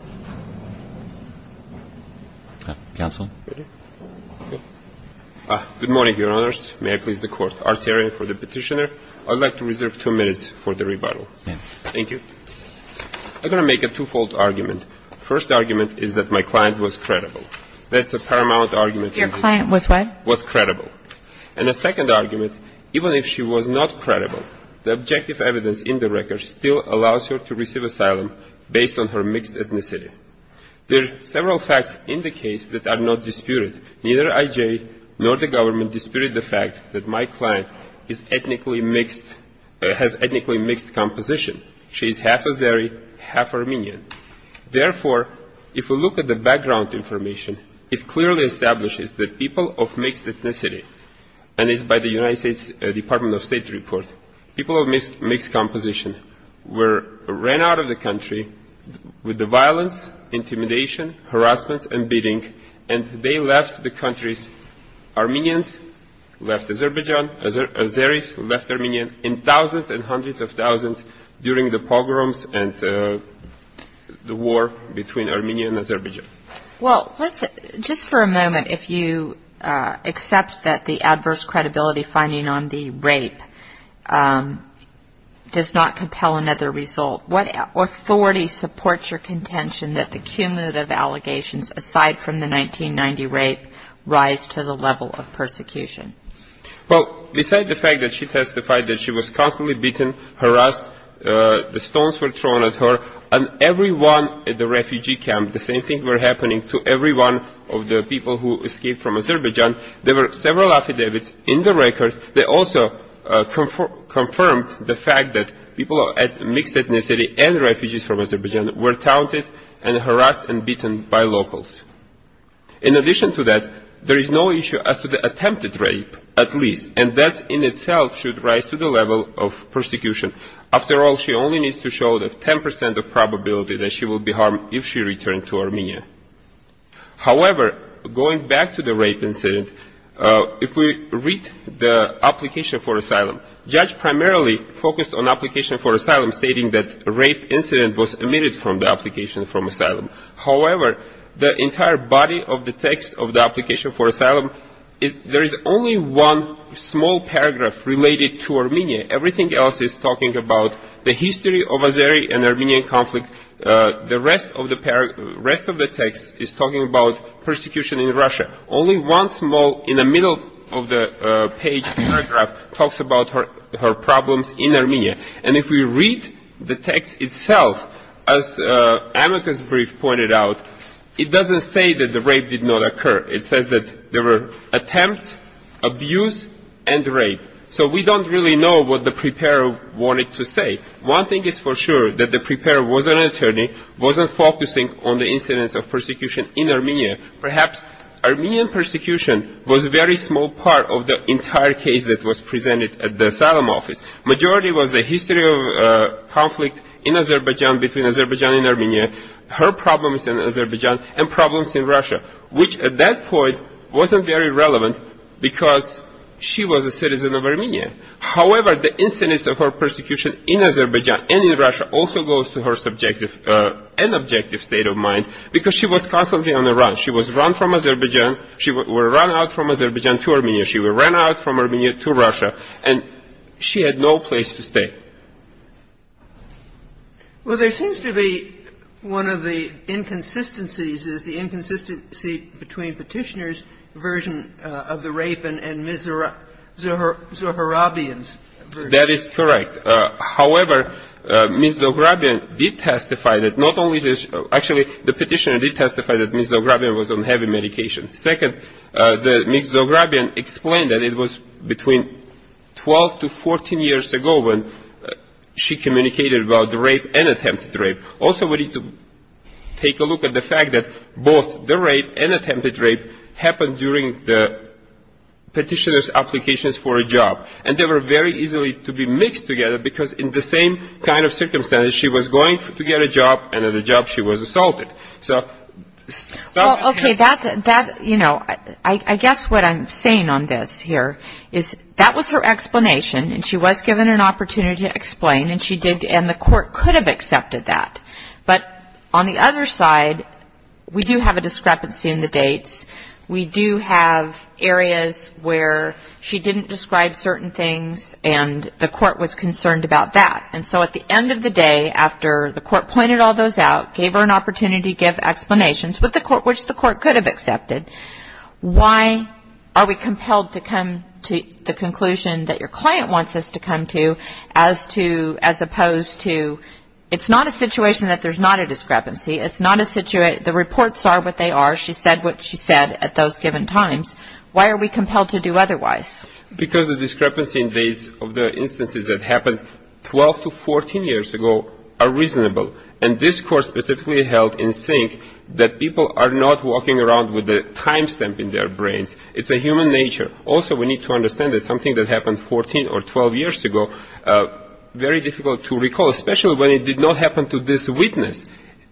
I'm going to make a twofold argument. First argument is that my client was credible. That's a paramount argument. Your client was what? Was credible. And a second argument, even if she was not credible, the objective evidence in the record still allows her to receive There are several facts in the case that are not disputed. Neither IJ nor the government disputed the fact that my client has ethnically mixed composition. She is half Azeri, half Armenian. Therefore, if we look at the background information, it clearly establishes that people of mixed ethnicity, and it's by the United States Department of State report, people of mixed composition ran out of the country with the violence, intimidation, harassment, and beating, and they left the countries, Armenians left Azerbaijan, Azeris left Armenia, in thousands and hundreds of thousands during the pogroms and the war between Armenia and Azerbaijan. Well, just for a moment, if you accept that the adverse credibility finding on the rape does not compel another result, what authority supports your contention that the cumulative allegations aside from the 1990 rape rise to the level of persecution? Well, besides the fact that she testified that she was constantly beaten, harassed, the stones were thrown at her, and everyone at the refugee camp, the same thing were happening to everyone of the people who escaped from Azerbaijan, there were several affidavits in the record that also confirmed the fact that people of mixed ethnicity and refugees from Azerbaijan were taunted and harassed and beaten by locals. In addition to that, there is no issue as to the attempted rape, at least, and that in itself should rise to the 10% of probability that she will be harmed if she returned to Armenia. However, going back to the rape incident, if we read the application for asylum, the judge primarily focused on application for asylum, stating that the rape incident was omitted from the application for asylum. However, the entire body of the text of the application for asylum, there is only one small paragraph related to the Armenian conflict, the rest of the text is talking about persecution in Russia. Only one small, in the middle of the page, paragraph talks about her problems in Armenia. And if we read the text itself, as Amica's brief pointed out, it doesn't say that the rape did not occur. It says that there were attempts, abuse, and rape. So we don't really know what the preparer wanted to say. One thing is for sure, that the preparer was an attorney, wasn't focusing on the incidents of persecution in Armenia. Perhaps Armenian persecution was a very small part of the entire case that was presented at the asylum office. Majority was the history of conflict in Azerbaijan between Azerbaijan and Armenia, her problems in Azerbaijan, and problems in Russia, which at that point wasn't very relevant because she was a citizen of Armenia. However, the incidents of her persecution in Azerbaijan and in Russia also goes to her subjective and objective state of mind because she was constantly on the run. She was run from Azerbaijan. She was run out from Azerbaijan to Armenia. She was run out from Armenia to Russia, and she had no place to stay. Well, there seems to be one of the inconsistencies is the inconsistency between Petitioner's version of the rape and Ms. Zohrabian's version. That is correct. However, Ms. Zohrabian did testify that not only did she – actually, the Petitioner did testify that Ms. Zohrabian was on heavy medication. Second, Ms. Zohrabian explained that it was between 12 to 14 years ago when she communicated about the rape and attempted rape. Also, we need to take a look at the fact that both the rape and attempted rape happened during the Petitioner's applications for a job, and they were very easily to be mixed together because in the same kind of circumstance, she was going to get a job, and at the job she was assaulted. Well, okay, that's – you know, I guess what I'm saying on this here is that was her explanation, and she was given an opportunity to explain, and she did – and the court could have accepted that. But on the other side, we do have a discrepancy in the dates. We do have areas where she didn't describe certain things, and the court was concerned about that. And so at the end of the day, after the court pointed all those out, gave her an opportunity to give explanations, which the court could have accepted, why are we compelled to come to the conclusion that your client wants us to come to as opposed to – it's not a situation that there's not a discrepancy. It's not a – the reports are what they are. She said what she said at those given times. Why are we compelled to do otherwise? Because the discrepancy in dates of the instances that happened 12 to 14 years ago are reasonable. And this Court specifically held in sync that people are not walking around with a time stamp in their brains. It's a human nature. Also, we need to understand that something that happened 14 or 12 years ago, very difficult to recall, especially when it did not happen to this witness.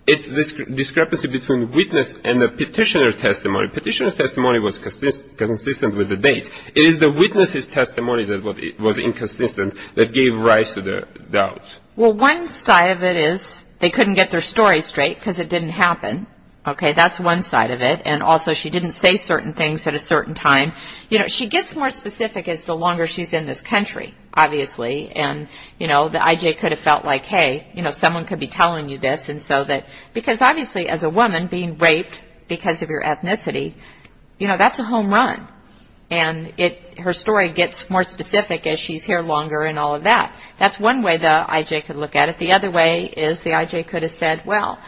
It's this discrepancy between witness and the petitioner's testimony. Petitioner's testimony was consistent with the dates. It is the witness's testimony that was inconsistent that gave rise to the doubt. Well, one side of it is they couldn't get their story straight because it didn't happen. Okay, that's one side of it. And also, she didn't say certain things at a certain time. You know, she gets more specific as the longer she's in this country, obviously. And, you know, the IJ could have felt like, hey, you know, someone could be telling you this. And so that – because obviously as a woman being raped because of your ethnicity, you know, that's a home run. And her story gets more specific as she's here longer and all of that. That's one way the IJ could look at it. The other way is the IJ could have said, well,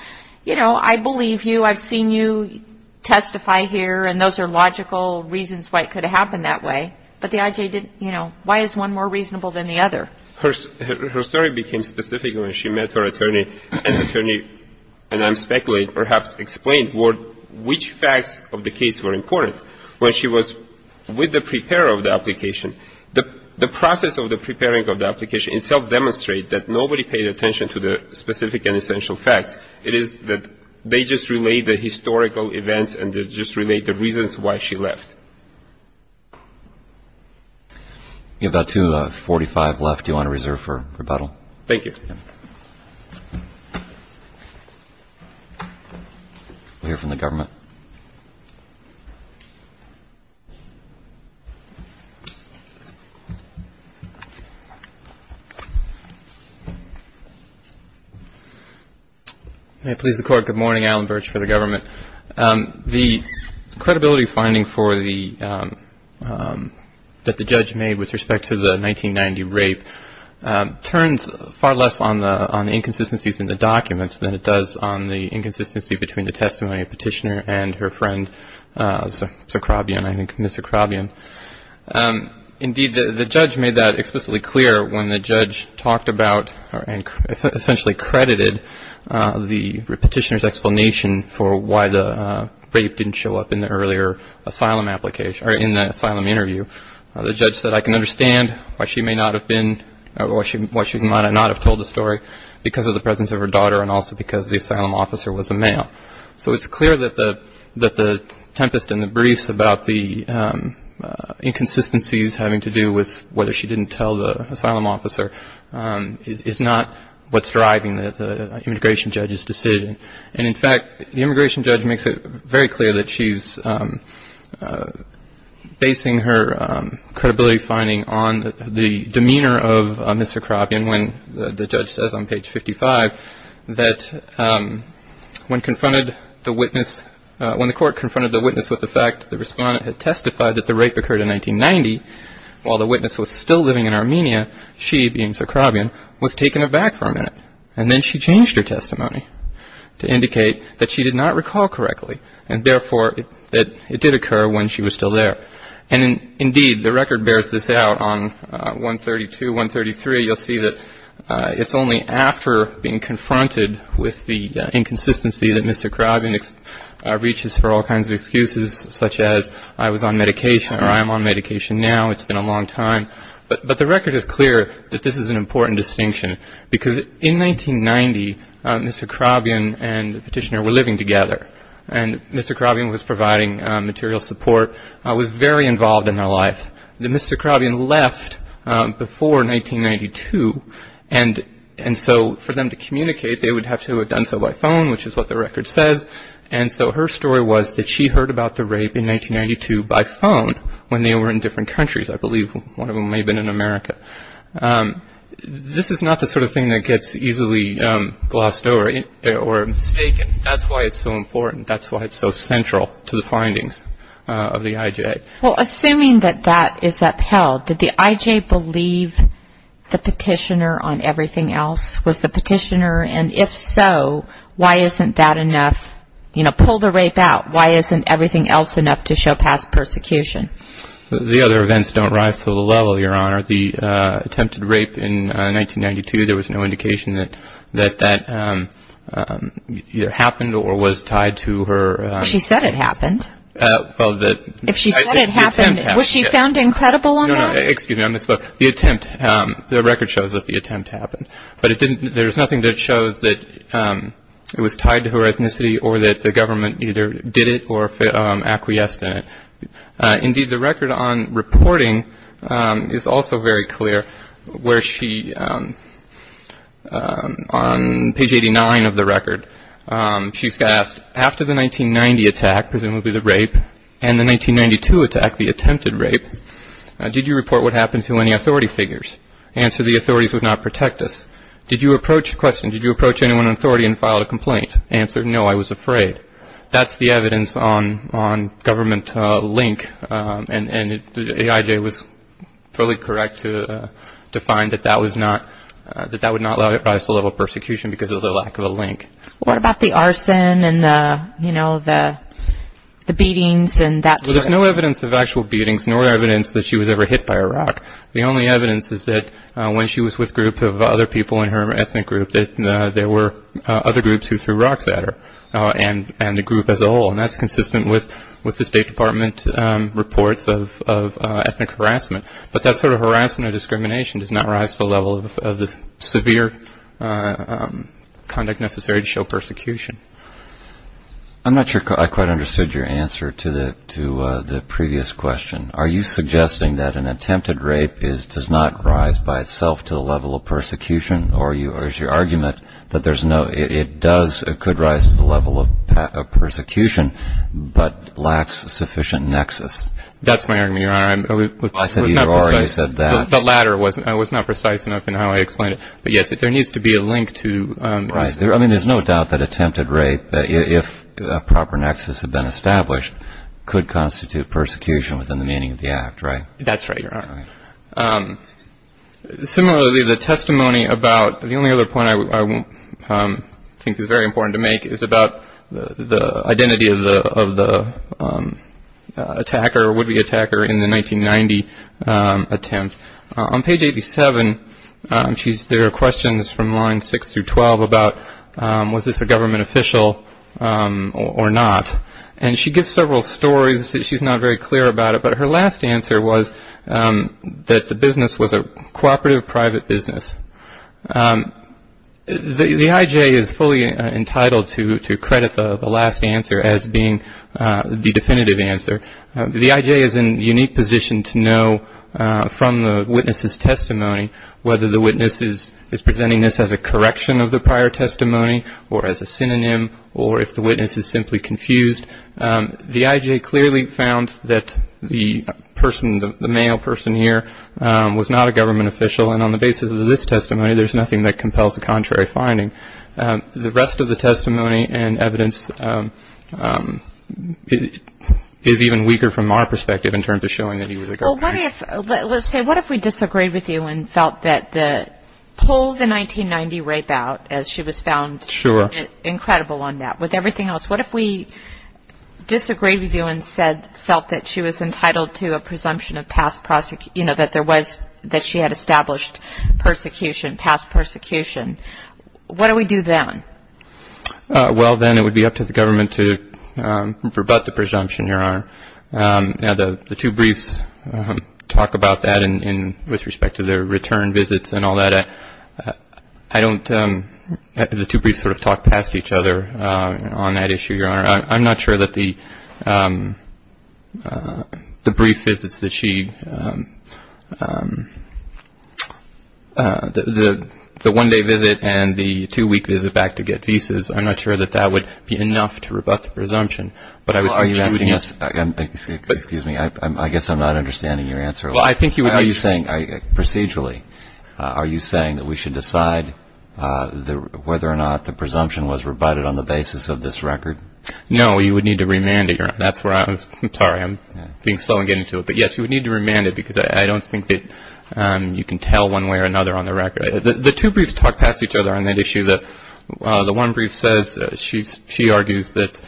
you know, I believe you. I've seen you testify here, and those are logical reasons why it could have happened that way. But the IJ didn't, you know, why is one more reasonable than the other? And the attorney, and I'm speculating, perhaps explained which facts of the case were important. When she was with the preparer of the application, the process of the preparing of the application itself demonstrated that nobody paid attention to the specific and essential facts. It is that they just relayed the historical events and just relayed the reasons why she left. We have about 2.45 left. Do you want to reserve for rebuttal? Thank you. We'll hear from the government. May it please the Court, good morning. Alan Virch for the government. The credibility finding that the judge made with respect to the 1990 rape turns far less on the inconsistencies in the documents than it does on the inconsistency between the testimony of Petitioner and her friend, Mr. Krobian. Indeed, the judge made that explicitly clear when the judge talked about and essentially credited the Petitioner's explanation for why the rape didn't show up in the earlier asylum application, or in the asylum interview. The judge said, I can understand why she may not have been, or why she might not have told the story, because of the presence of her daughter and also because the asylum officer was a male. So it's clear that the tempest in the briefs about the inconsistencies having to do with whether she didn't tell the story is not what's driving the immigration judge's decision. And in fact, the immigration judge makes it very clear that she's basing her credibility finding on the demeanor of Mr. Krobian, when the judge says on page 55 that when confronted the witness, when the court confronted the witness with the fact that the respondent had testified that the rape occurred in 1990, while the witness was still living in Armenia, she, being Sir Krobian, was taken aback for a minute. And then she changed her testimony to indicate that she did not recall correctly, and therefore that it did occur when she was still there. And indeed, the record bears this out on 132, 133. You'll see that it's only after being confronted with the inconsistency that Mr. Krobian reaches for all kinds of excuses, such as I was on medication or I am on medication now, it's been a long time. But the record is clear that this is an important distinction, because in 1990, Mr. Krobian and the petitioner were living together. And Mr. Krobian was providing material support, was very involved in their life. Mr. Krobian left before 1992, and so for them to communicate, they would have to have done so by phone, which is what the record says. And so her story was that she heard about the rape in 1992 by phone when they were in different countries. I believe one of them may have been in America. This is not the sort of thing that gets easily glossed over or mistaken. That's why it's so important. That's why it's so central to the findings of the IJ. Well, assuming that that is upheld, did the IJ believe the petitioner on everything else? Was the petitioner, and if so, why isn't that enough? You know, pull the rape out. Why isn't everything else enough to show past persecution? The other events don't rise to the level, Your Honor. The attempted rape in 1992, there was no indication that that either happened or was tied to her. She said it happened. If she said it happened, was she found incredible on that? No, no, excuse me, on this book. The attempt, the record shows that the attempt happened. But it didn't, there's nothing that shows that it was tied to her ethnicity or that the government either did it or acquiesced in it. Indeed, the record on reporting is also very clear where she, on page 89 of the record, she's asked, after the 1990 attack, presumably the rape, and the 1992 attack, the attempted rape, did you report what happened to any authority figures? Answer, the authorities would not protect us. Did you approach, question, did you approach anyone in authority and file a complaint? Answer, no, I was afraid. That's the evidence on government link, and the IJ was fully correct to find that that was not, that that would not rise to the level of persecution because of the lack of a link. What about the arson and, you know, the beatings and that sort of thing? There's no evidence of actual beatings, nor evidence that she was ever hit by a rock. The only evidence is that when she was with groups of other people in her ethnic group, that there were other groups who threw rocks at her and the group as a whole. And that's consistent with the State Department reports of ethnic harassment. But that sort of harassment or discrimination does not rise to the level of the severe conduct necessary to show persecution. I'm not sure I quite understood your answer to the previous question. Are you suggesting that an attempted rape does not rise by itself to the level of persecution, or is your argument that there's no, it does, it could rise to the level of persecution, but lacks sufficient nexus? That's my argument, Your Honor. I said you already said that. The latter was not precise enough in how I explained it. But yes, there needs to be a link to. Right. I mean, there's no doubt that attempted rape, if a proper nexus had been established, could constitute persecution within the meaning of the act, right? That's right, Your Honor. Similarly, the testimony about, the only other point I think is very important to make, is about the identity of the attacker or would-be attacker in the 1990 attempt. On page 87, there are questions from lines 6 through 12 about was this a government official or not. And she gives several stories that she's not very clear about it. But her last answer was that the business was a cooperative private business. The I.J. is fully entitled to credit the last answer as being the definitive answer. The I.J. is in a unique position to know from the witness's testimony whether the witness is presenting this as a correction of the prior testimony or as a synonym or if the witness is simply confused. The I.J. clearly found that the person, the male person here, was not a government official. And on the basis of this testimony, there's nothing that compels a contrary finding. The rest of the testimony and evidence is even weaker from our perspective in terms of showing that he was a government official. Well, what if, let's say, what if we disagreed with you and felt that the, pull the 1990 rape out as she was found incredible on that. With everything else, what if we disagreed with you and said, felt that she was entitled to a presumption of past, you know, that there was, that she had established persecution, past persecution. What do we do then? Well, then it would be up to the government to rebut the presumption, Your Honor. Now, the two briefs talk about that with respect to their return visits and all that. I don't, the two briefs sort of talk past each other on that issue, Your Honor. I'm not sure that the brief visits that she, the one-day visit and the two-week visit back to government to get visas, I'm not sure that that would be enough to rebut the presumption, but I would think you would need to. Well, are you asking us, excuse me, I guess I'm not understanding your answer. Well, I think you would need to. Are you saying, procedurally, are you saying that we should decide whether or not the presumption was rebutted on the basis of this record? No, you would need to remand it, Your Honor. The one brief says, she argues that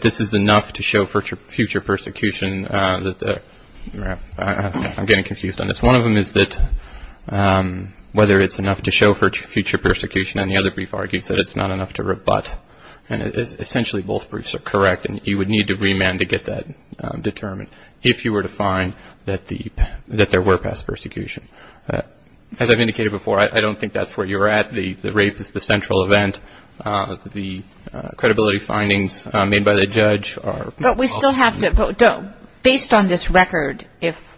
this is enough to show future persecution. I'm getting confused on this. One of them is that whether it's enough to show future persecution, and the other brief argues that it's not enough to rebut. And essentially both briefs are correct, and you would need to remand to get that determined, if you were to find that there were past persecution. As I've indicated before, I don't think that's where you're at. The rape is the central event. The credibility findings made by the judge are... But we still have to, based on this record, if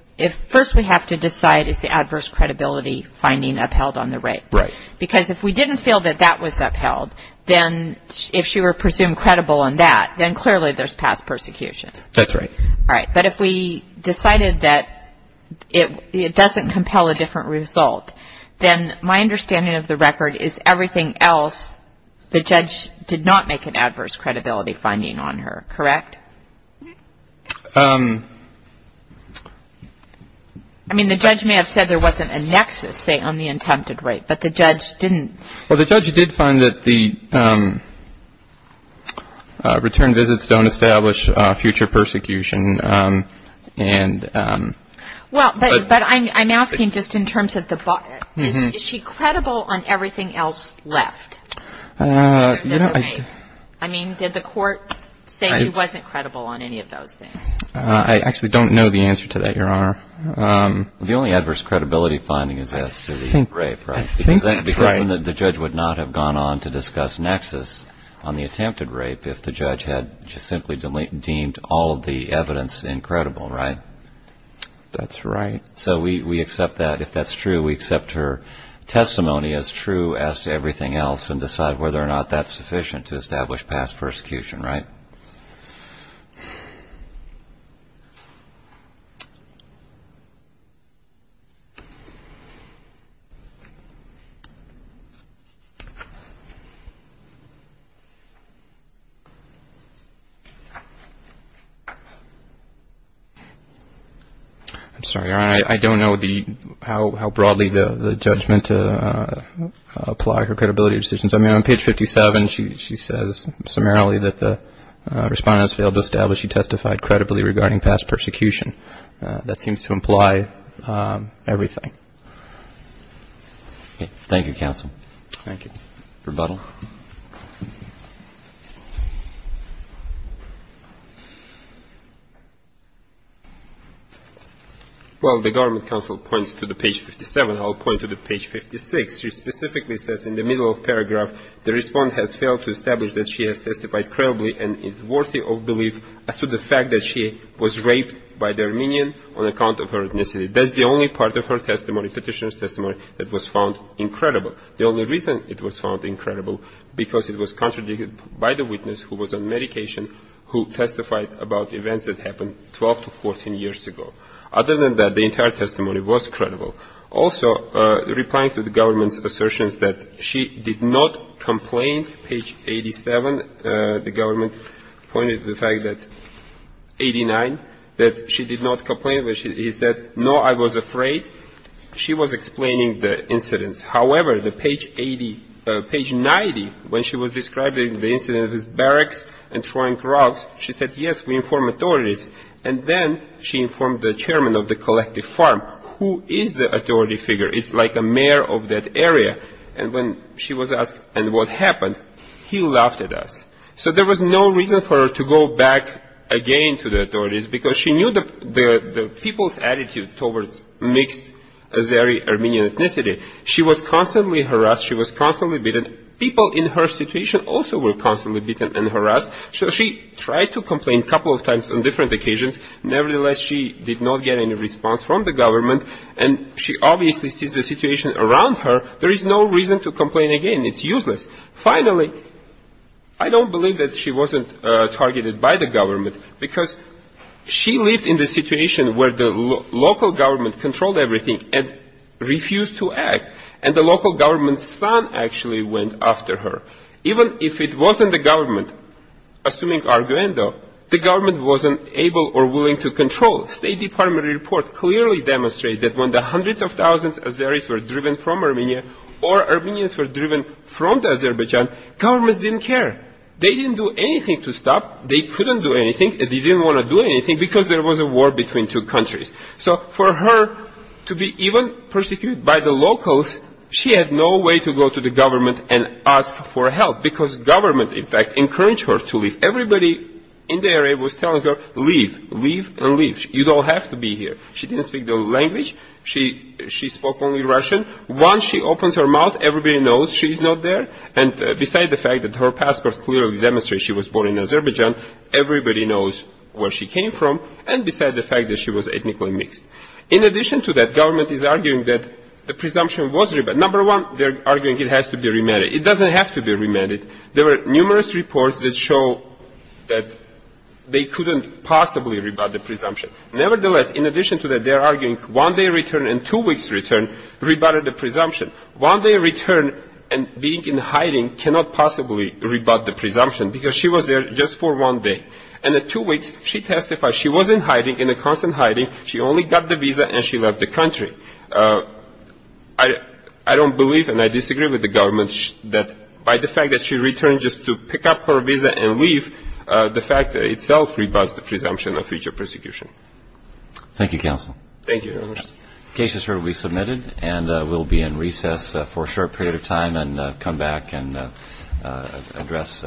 first we have to decide is the adverse credibility finding upheld on the rape. Right. Because if we didn't feel that that was upheld, then if she were presumed credible on that, then clearly there's past persecution. That's right. All right, but if we decided that it doesn't compel a different result, then my understanding of the record is everything else, the judge did not make an adverse credibility finding on her, correct? I mean, the judge may have said there wasn't a nexus, say, on the attempted rape, but the judge didn't. Well, the judge did find that the return visits don't establish future persecution. Well, but I'm asking just in terms of the... Is she credible on everything else left? I mean, did the court say he wasn't credible on any of those things? I actually don't know the answer to that, Your Honor. The only adverse credibility finding is as to the rape, right? I think that's right. I think that's right, Your Honor. I think that's right, Your Honor. I mean, on page 57 she says summarily that the respondent has failed to establish he testified credibly regarding past persecution. That seems to imply everything. Thank you, counsel. Rebuttal. Well, the government counsel points to the page 57. I'll point to the page 56. She specifically says in the middle of paragraph the respondent has failed to establish that she has testified credibly and is worthy of belief as to the fact that she was raped by the Armenian on account of her ethnicity. That's the only part of her testimony, petitioner's testimony, that was found incredible. The only reason it was found incredible, because it was contradicted by the witness who was on medication, who testified about events that happened 12 to 14 years ago. Other than that, the entire testimony was credible. Also, replying to the government's assertions that she did not complain, page 87, the government pointed to the fact that 89, that she did not complain. He said, no, I was afraid. She was explaining the incidents. However, the page 90, when she was describing the incident of his barracks and throwing drugs, she said, yes, we informed authorities. And then she informed the chairman of the collective farm, who is the authority figure. It's like a mayor of that area. And when she was asked, and what happened, he laughed at us. So there was no reason for her to go back again to the authorities because she knew the people's attitude towards mixed Azeri-Armenian ethnicity. She was constantly harassed. She was constantly beaten. People in her situation also were constantly beaten and harassed. So she tried to complain a couple of times on different occasions. Nevertheless, she did not get any response from the government, and she obviously sees the situation around her. There is no reason to complain again. It's useless. Finally, I don't believe that she wasn't targeted by the government because she lived in the situation where the local government controlled everything and refused to act. And the local government's son actually went after her. Even if it wasn't the government, assuming Arguendo, the government wasn't able or willing to control. State Department report clearly demonstrated that when the hundreds of thousands of Azeris were driven from Armenia, or Armenians were driven from Azerbaijan, governments didn't care. They didn't do anything to stop. They couldn't do anything. They didn't want to do anything because there was a war between two countries. So for her to be even persecuted by the locals, she had no way to go to the government and ask for help because government, in fact, encouraged her to leave. Everybody in the area was telling her, leave, leave, and leave. You don't have to be here. She didn't speak the language. She spoke only Russian. Once she opens her mouth, everybody knows she's not there. And besides the fact that her passport clearly demonstrates she was born in Azerbaijan, everybody knows where she came from, and besides the fact that she was ethnically mixed. In addition to that, government is arguing that the presumption was rebutted. Number one, they're arguing it has to be remanded. It doesn't have to be remanded. There were numerous reports that show that they couldn't possibly rebut the presumption. Nevertheless, in addition to that, they're arguing one day return and two weeks return rebutted the presumption. One day return and being in hiding cannot possibly rebut the presumption because she was there just for one day. And in two weeks, she testified she was in hiding, in constant hiding. She only got the visa and she left the country. I don't believe, and I disagree with the government, that by the fact that she returned just to pick up her visa and leave, the fact itself rebuts the presumption of future persecution. Thank you, counsel. Thank you.